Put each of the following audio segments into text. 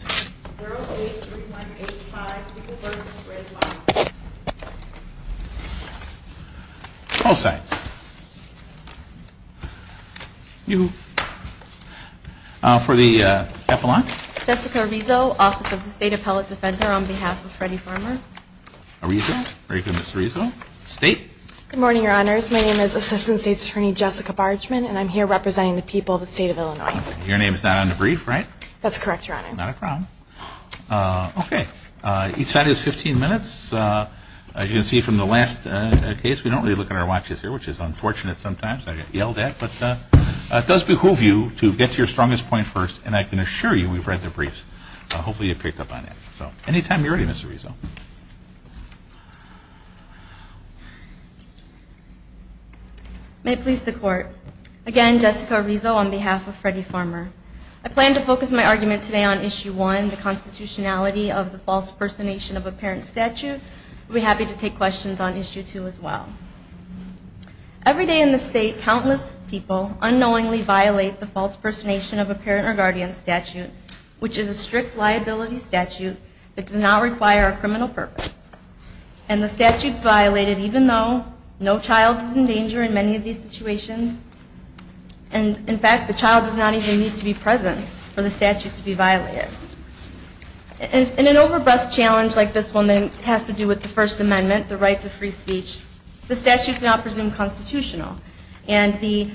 0 8 3 1 8 5 People v. Fred Farmer Both sides. You. For the epilogue. Jessica Rizzo, Office of the State Appellate Defender, on behalf of Freddie Farmer. Rizzo. Very good, Ms. Rizzo. State. Good morning, Your Honors. My name is Assistant State's Attorney Jessica Bargeman, and I'm here representing the people of the state of Illinois. Your name is not on the brief, right? That's correct, Your Honor. Not a problem. Okay. Each side has 15 minutes. As you can see from the last case, we don't really look at our watches here, which is unfortunate sometimes. I get yelled at, but it does behoove you to get to your strongest point first, and I can assure you we've read the briefs. Hopefully you picked up on that. So anytime you're ready, Ms. Rizzo. May it please the Court. Again, Jessica Rizzo on behalf of Freddie Farmer. I plan to focus my argument today on Issue 1, the constitutionality of the false personation of a parent statute. I'll be happy to take questions on Issue 2 as well. Every day in the state, countless people unknowingly violate the false personation of a parent or guardian statute, which is a strict liability statute that does not require a criminal purpose. And the statute's violated even though no child is in danger in many of these situations. And, in fact, the child does not even need to be present for the statute to be violated. In an overbreadth challenge like this one that has to do with the First Amendment, the right to free speech, the statute's not presumed constitutional, and the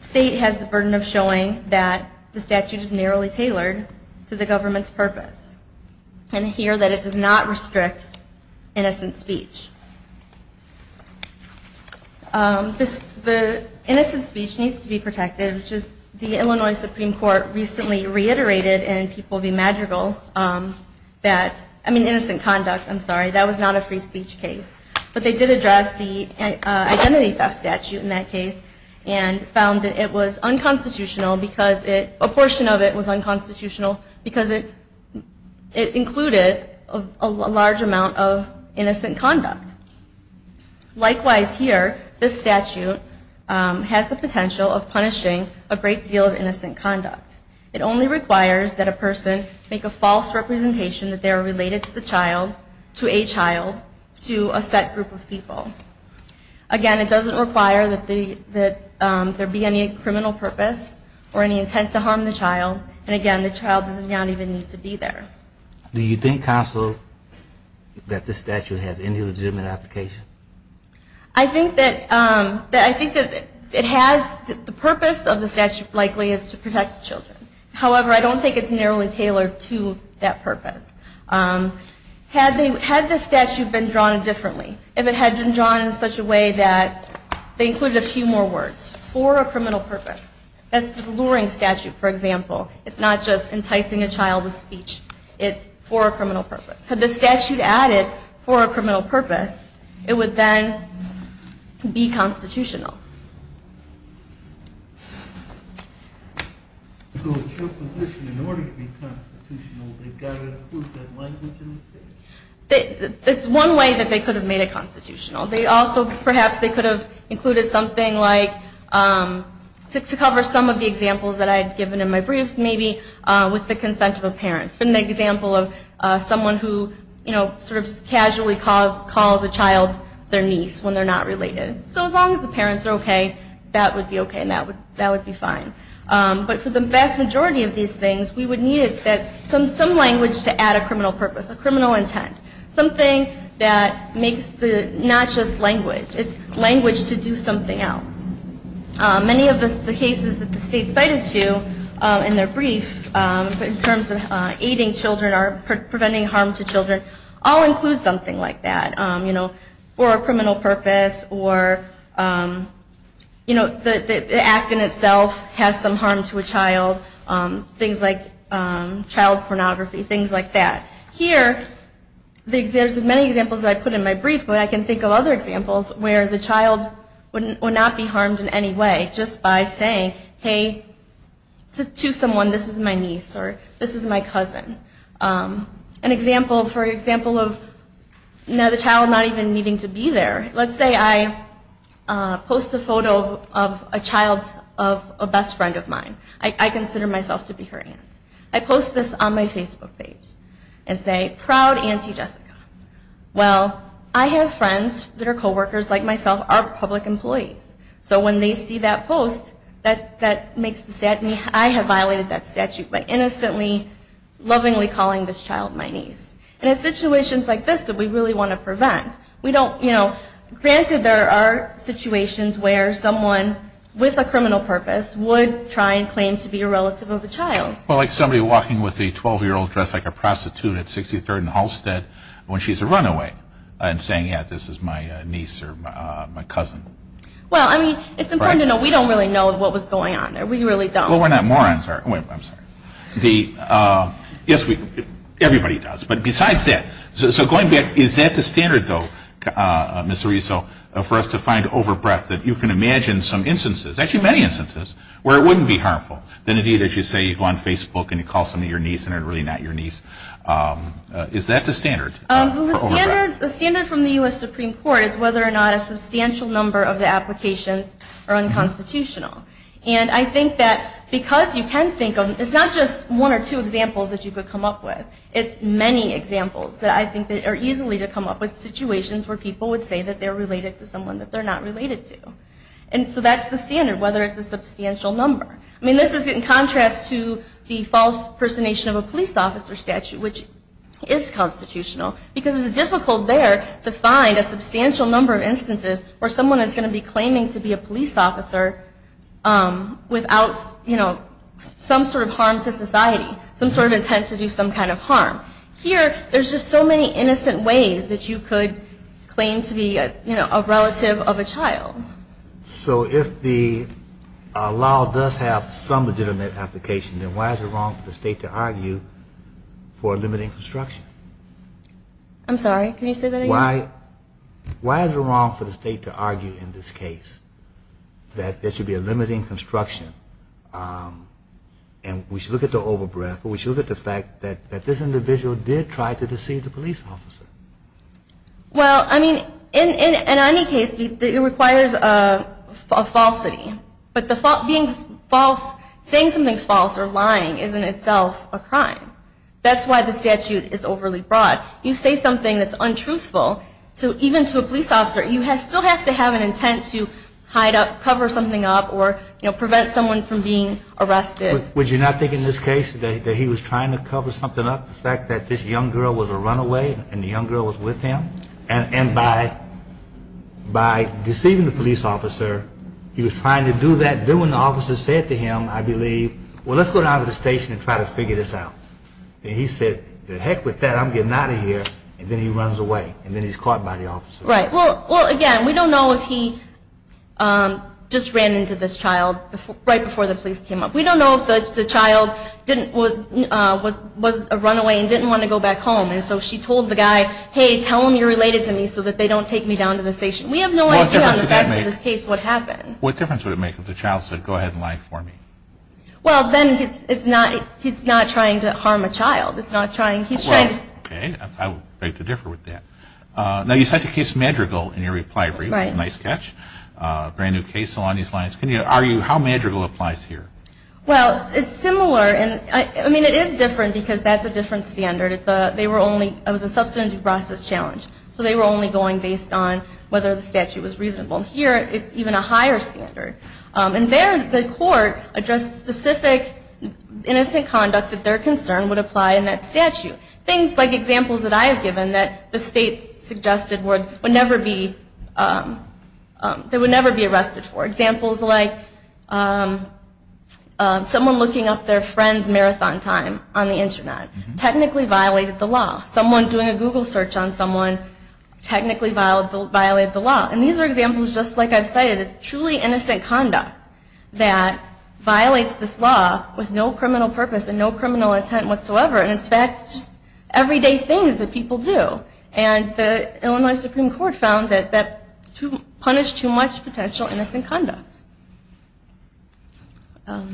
state has the burden of showing that the statute is narrowly tailored to the government's purpose, and here that it does not restrict innocent speech. The innocent speech needs to be protected. The Illinois Supreme Court recently reiterated in People v. Madrigal that, I mean innocent conduct, I'm sorry, that was not a free speech case, but they did address the identity theft statute in that case, and found that it was unconstitutional because it, a portion of it was unconstitutional because it included a large amount of innocent conduct. Likewise here, this statute has the potential of punishing a great deal of innocent conduct. It only requires that a person make a false representation that they're related to the child, to a child, to a set group of people. Again, it doesn't require that there be any criminal purpose or any intent to harm the child, and again, the child does not even need to be there. Do you think, counsel, that this statute has any legitimate application? I think that it has, the purpose of the statute likely is to protect children. However, I don't think it's narrowly tailored to that purpose. Had the statute been drawn differently, if it had been drawn in such a way that they included a few more words for a criminal purpose, that's the Luring statute, for example, it's not just enticing a child with speech, it's for a criminal purpose. Had the statute added for a criminal purpose, it would then be constitutional. So in your position, in order to be constitutional, they've got to include that language in the statute? That's one way that they could have made it constitutional. They also, perhaps they could have included something like, to cover some of the examples that I had given in my briefs, maybe with the consent of a parent. For example, someone who sort of casually calls a child their niece when they're not related. So as long as the parents are okay, that would be okay and that would be fine. But for the vast majority of these things, we would need some language to add a criminal purpose, a criminal intent. Something that makes the, not just language, it's language to do something else. Many of the cases that the state cited to in their brief, in terms of aiding children or preventing harm to children, all include something like that, you know, for a criminal purpose or, you know, the act in itself has some harm to a child. Things like child pornography, things like that. Here, there's many examples that I put in my brief, but I can think of other examples where the child would not be harmed in any way. Just by saying, hey, to someone, this is my niece or this is my cousin. An example, for example of, you know, the child not even needing to be there. Let's say I post a photo of a child of a best friend of mine. I consider myself to be her aunt. I post this on my Facebook page and say, proud auntie Jessica. Well, I have friends that are coworkers like myself, are public employees. So when they see that post, that makes me sad. I have violated that statute by innocently, lovingly calling this child my niece. And it's situations like this that we really want to prevent. We don't, you know, granted there are situations where someone with a criminal purpose would try and claim to be a relative of a child. Well, like somebody walking with a 12-year-old dressed like a prostitute at 63rd and Halstead when she's a runaway and saying, yeah, this is my niece or my cousin. Well, I mean, it's important to know we don't really know what was going on. We really don't. Well, we're not morons. Yes, everybody does. But besides that, so going back, is that the standard, though, Ms. Ariso, for us to find over-breath, that you can imagine some instances, actually many instances, where it wouldn't be harmful than, indeed, as you say, you go on Facebook and you call somebody your niece and they're really not your niece. Is that the standard for over-breath? Well, the standard from the U.S. Supreme Court is whether or not a substantial number of the applications are unconstitutional. And I think that because you can think of it's not just one or two examples that you could come up with. It's many examples that I think are easily to come up with situations where people would say that they're related to someone that they're not related to. And so that's the standard, whether it's a substantial number. I mean, this is in contrast to the false personation of a police officer statute, which is constitutional, because it's difficult there to find a substantial number of instances where someone is going to be claiming to be a police officer without some sort of harm to society, some sort of intent to do some kind of harm. Here, there's just so many innocent ways that you could claim to be a relative of a child. So if the law does have some legitimate application, then why is it wrong for the state to argue for a limiting construction? I'm sorry, can you say that again? Why is it wrong for the state to argue in this case that there should be a limiting construction? And we should look at the over-breath, but we should look at the fact that this individual did try to deceive the police officer. Well, I mean, in any case, it requires a falsity. But being false, saying something false or lying is in itself a crime. That's why the statute is overly broad. You say something that's untruthful, even to a police officer, you still have to have an intent to hide up, cover something up, or prevent someone from being arrested. Would you not think in this case that he was trying to cover something up? The fact that this young girl was a runaway and the young girl was with him? And by deceiving the police officer, he was trying to do that. Then when the officer said to him, I believe, well, let's go down to the station and try to figure this out. And he said, heck with that, I'm getting out of here. And then he runs away and then he's caught by the officer. Well, again, we don't know if he just ran into this child right before the police came up. We don't know if the child was a runaway and didn't want to go back home. And so she told the guy, hey, tell them you're related to me so that they don't take me down to the station. We have no idea on the facts of this case what happened. What difference would it make if the child said, go ahead and lie for me? Well, then he's not trying to harm a child. Okay, I would beg to differ with that. Now, you cite the case Madrigal in your reply brief. How Madrigal applies here? Well, it's similar. I mean, it is different because that's a different standard. It was a substantive process challenge. So they were only going based on whether the statute was reasonable. Here, it's even a higher standard. And there, the court addressed specific innocent conduct that their concern would apply in that statute. Things like examples that I have given that the state suggested would never be arrested for. Examples like someone looking up their friend's marathon time on the Internet technically violated the law. Someone doing a Google search on someone technically violated the law. And these are examples just like I've cited. It's truly innocent conduct that violates this law with no criminal purpose and no criminal intent whatsoever. And it's just everyday things that people do. And the Illinois Supreme Court found that that punished too much potential innocent conduct. Are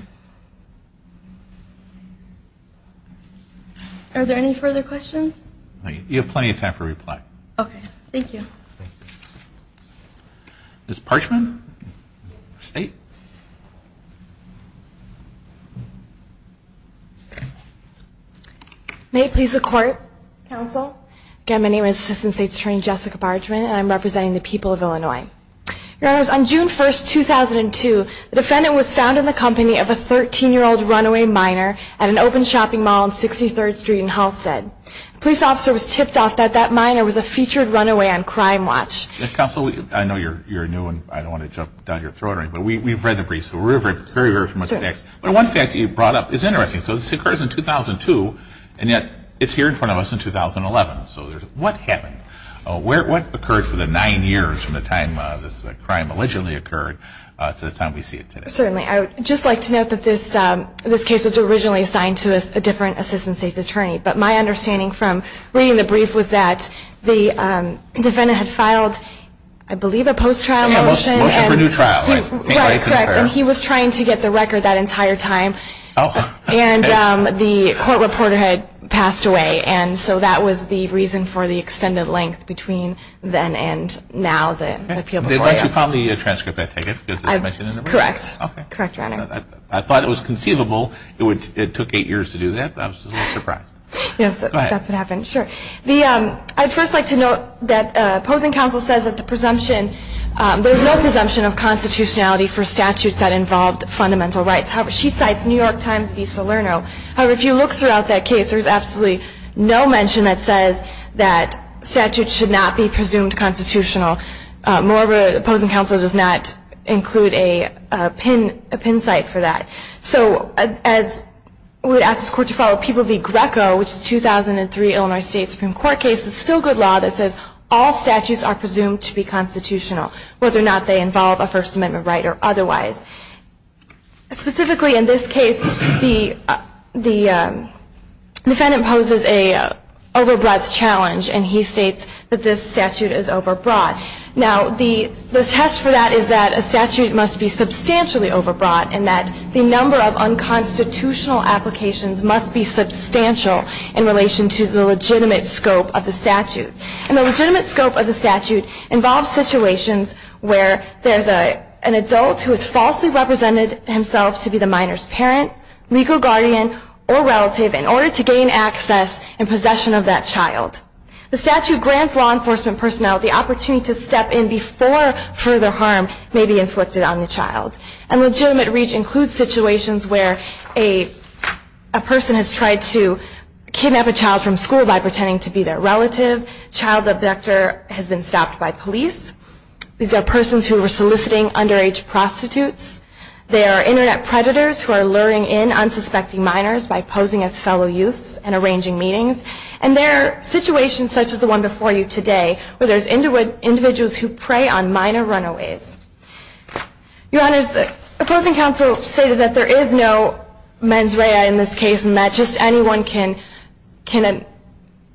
there any further questions? You have plenty of time for reply. Ms. Parchman, State. May it please the Court, Counsel. Again, my name is Assistant State's Attorney Jessica Parchman and I'm representing the people of Illinois. Your Honors, on June 1, 2002, the defendant was found in the company of a 13-year-old runaway minor at an open shopping mall on 63rd Street in Halstead. The police officer was tipped off that that minor was a featured runaway on Crime Watch. Counsel, I know you're new and I don't want to jump down your throat. But we've read the briefs. One fact you brought up is interesting. So this occurs in 2002 and yet it's here in front of us in 2011. So what happened? What occurred for the nine years from the time this crime allegedly occurred to the time we see it today? Certainly. I would just like to note that this case was originally assigned to a different Assistant State's Attorney. But my understanding from reading the brief was that the defendant had filed, I believe, a post-trial motion. And he was trying to get the record that entire time. And the court reporter had passed away. And so that was the reason for the extended length between then and now. I thought it was conceivable. It took eight years to do that. I was a little surprised. I'd first like to note that opposing counsel says that the presumption, there's no presumption of constitutionality for statutes that involved fundamental rights. However, she cites New York Times v. Salerno. However, if you look throughout that case, there's absolutely no mention that says that statutes should not be presumed constitutional. Moreover, opposing counsel does not include a pin site for that. So as we ask this court to follow, People v. Greco, which is a 2003 Illinois State Supreme Court case, this is still good law that says all statutes are presumed to be constitutional, whether or not they involve a First Amendment right or otherwise. Specifically in this case, the defendant poses a over breadth challenge. And he states that this statute is over broad. Now, the test for that is that a statute must be substantially over broad, and that the number of unconstitutional applications must be substantial in relation to the legitimate scope of the statute. And the legitimate scope of the statute involves situations where there's an adult who has falsely represented himself to be the minor's parent, legal guardian, or relative in order to gain access and possession of that child. The statute grants law enforcement personnel the opportunity to step in before further harm may be inflicted on the child. And legitimate reach includes situations where a person has tried to kidnap a child from school by pretending to be their relative, child abductor has been stopped by police, these are persons who are soliciting underage prostitutes, they are internet predators who are luring in unsuspecting minors by posing as fellow youths and arranging meetings, and there are situations such as the one before you today where there's individuals who prey on minor runaways. Your Honors, the opposing counsel stated that there is no mens rea in this case and that just anyone can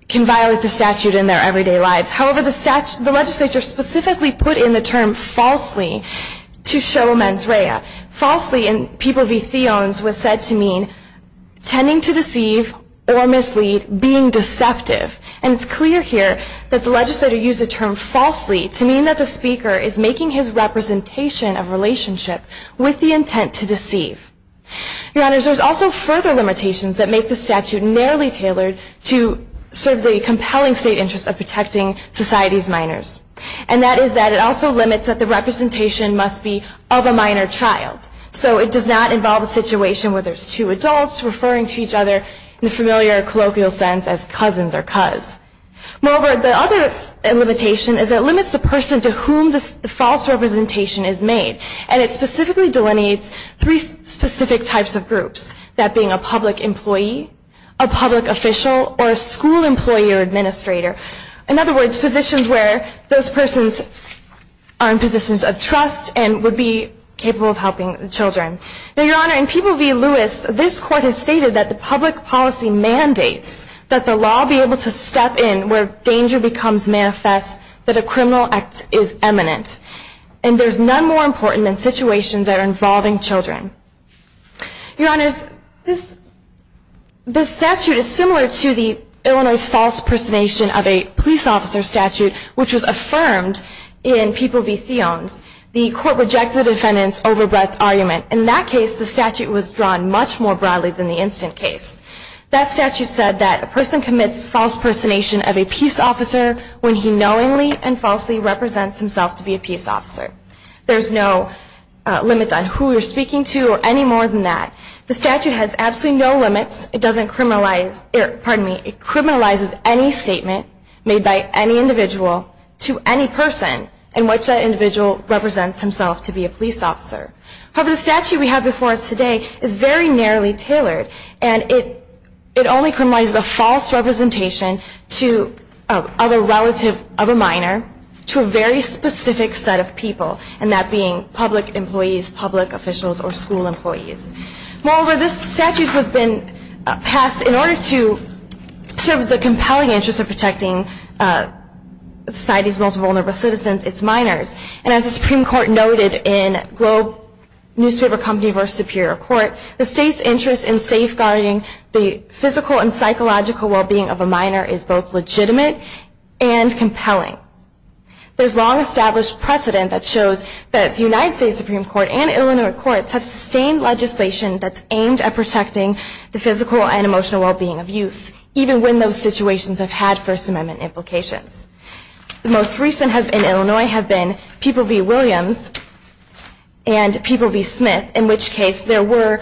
violate the statute in their everyday lives. However, the legislature specifically put in the term falsely to show mens rea. Falsely in people v. theons was said to mean tending to deceive or mislead, being deceptive. And it's clear here that the legislature used the term falsely to mean that the speaker is making his representation of relationship with the intent to deceive. Your Honors, there's also further limitations that make the statute narrowly tailored to serve the compelling state interest of protecting society's minors. And that is that it also limits that the representation must be of a minor child. So it does not involve a situation where there's two adults referring to each other in the familiar colloquial sense as cousins or cuz. Moreover, the other limitation is it limits the person to whom the false representation is made. And it specifically delineates three specific types of groups, that being a public employee, a public official, or a school employee or administrator. In other words, positions where those persons are in positions of trust and would be capable of helping the children. Now, Your Honor, in people v. Lewis, this court has stated that the public policy mandates that the law be able to step in where danger becomes manifest that a criminal act is eminent. And there's none more important than situations that are involving children. Your Honors, this statute is similar to Illinois' false personation of a police officer statute, which was affirmed in people v. Theons. The court rejected the defendant's over-breath argument. In that case, the statute was drawn much more broadly than the instant case. That statute said that a person commits false personation of a peace officer when he knowingly and falsely represents himself to be a peace officer. There's no limits on who you're speaking to or any more than that. The statute has absolutely no limits. It criminalizes any statement made by any individual to any person in which that individual represents himself to be a police officer. However, the statute we have before us today is very narrowly tailored, and it only criminalizes a false representation of a minor to a very specific set of people. And that being public employees, public officials, or school employees. Moreover, this statute has been passed in order to serve the compelling interest of protecting society's most vulnerable citizens, its minors. And as the Supreme Court noted in Globe Newspaper Company v. Superior Court, the state's interest in safeguarding the physical and psychological well-being of a minor is both legitimate and compelling. There's long-established precedent that shows that the United States Supreme Court and Illinois courts have sustained legislation that's aimed at protecting the physical and emotional well-being of youth, even when those situations have had First Amendment implications. The most recent in Illinois have been People v. Williams and People v. Smith, in which case there were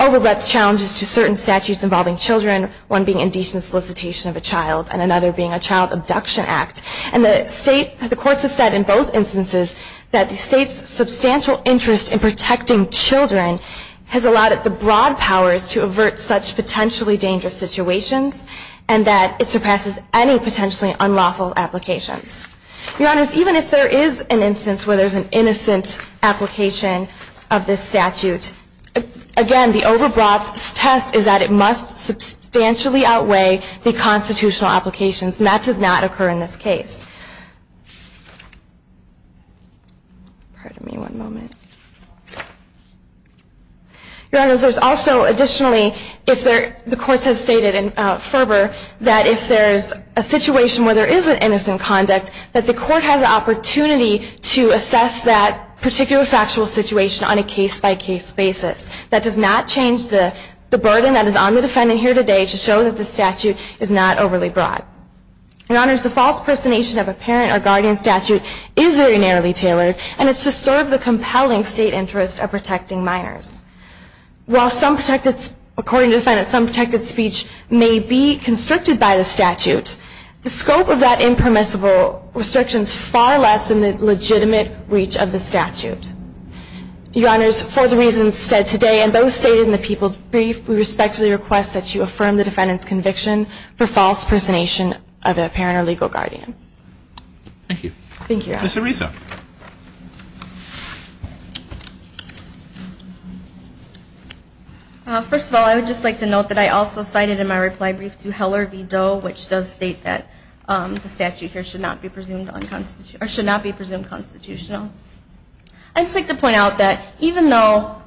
over-breath challenges to certain statutes involving children, one being indecent solicitation of a child and another being a child abduction act. And the courts have said in both instances that the state's substantial interest in protecting children has allowed the broad powers to avert such potentially dangerous situations and that it surpasses any potentially unlawful applications. Your Honors, even if there is an instance where there's an innocent application of this statute, again, the over-breath test is that it must substantially outweigh the constitutional applications and that does not occur in this case. Your Honors, there's also additionally, the courts have stated in fervor, that if there's a situation where there is an innocent conduct, that the court has an opportunity to assess that particular factual situation on a case-by-case basis. That does not change the burden that is on the defendant here today to show that the statute is not overly broad. Your Honors, the false personation of a parent or guardian statute is very narrowly tailored and it's to serve the compelling state interest of protecting minors. While according to the defendant, some protected speech may be constricted by the statute, the scope of that impermissible restriction is far less than the legitimate reach of the statute. Your Honors, for the reasons said today and those stated in the People's Brief, we respectfully request that you affirm the defendant's conviction for false personation of a parent or legal guardian. Thank you. Thank you, Your Honors. Ms. Arisa. First of all, I would just like to note that I also cited in my reply brief to Heller v. Doe, which does state that the statute here should not be presumed constitutional. I would just like to point out that even though,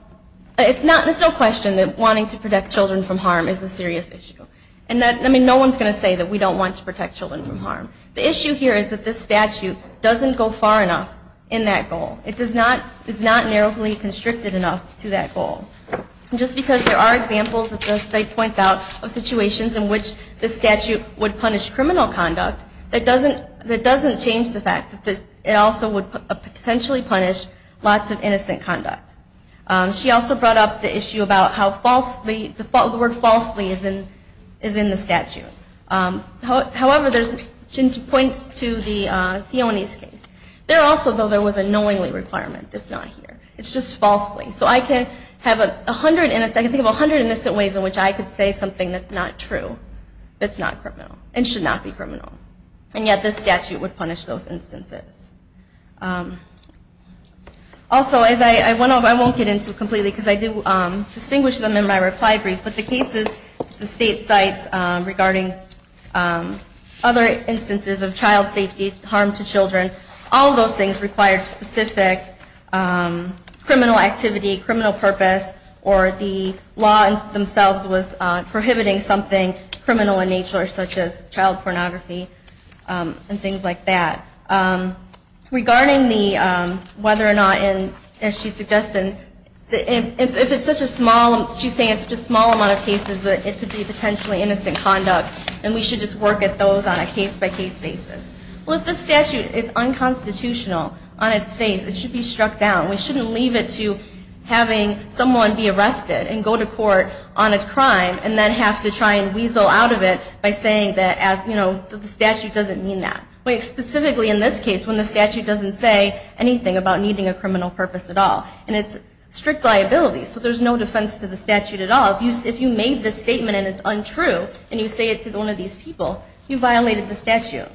it's no question that wanting to protect children from harm is a serious issue. I mean, no one is going to say that we don't want to protect children from harm. The issue here is that this statute doesn't go far enough in that goal. It is not narrowly constricted enough to that goal. Just because there are examples that the state points out of situations in which the statute would punish criminal conduct, that doesn't change the fact that it also would potentially punish lots of innocent conduct. She also brought up the issue about how the word falsely is in the statute. However, there's points to the Theonis case. There also, though, there was a knowingly requirement that's not here. It's just falsely. So I can think of 100 innocent ways in which I could say something that's not true, that's not criminal, and should not be criminal. And yet, this statute would punish those instances. Also, I won't get into it completely because I do distinguish them in my reply brief, but the cases the state cites regarding other instances of child safety, harm to children, all of those things required specific criminal activity, criminal purpose, or the law themselves was prohibiting something criminal in nature, such as child pornography and things like that. Regarding the whether or not, as she suggested, if it's such a small, she's saying it's such a small amount of cases that it could be potentially innocent conduct, then we should just work at those on a case-by-case basis. Well, if the statute is unconstitutional on its face, it should be struck down. We shouldn't leave it to having someone be arrested and go to court on a crime and then have to try and weasel out of it by saying that the statute doesn't mean that, specifically in this case when the statute doesn't say anything about needing a criminal purpose at all. And it's strict liability, so there's no defense to the statute at all. If you made this statement and it's untrue and you say it to one of these people, you violated the statute.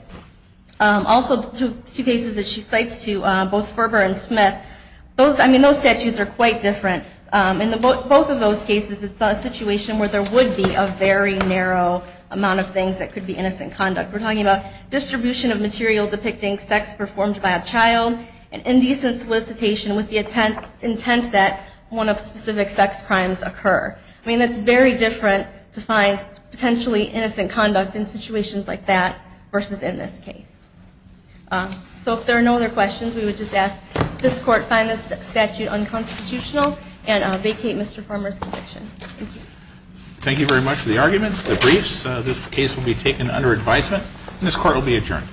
Also, two cases that she cites, too, both Ferber and Smith, those statutes are quite different. In both of those cases, it's a situation where there would be a very narrow amount of things that could be innocent conduct. We're talking about distribution of material depicting sex performed by a child and indecent solicitation with the intent that one of specific sex crimes occur. I mean, it's very different to find potentially innocent conduct in situations like that versus in this case. So if there are no other questions, we would just ask this Court find this statute unconstitutional and vacate Mr. Farmer's conviction. Thank you. Thank you very much for the arguments, the briefs. This case will be taken under advisement and this Court will be adjourned.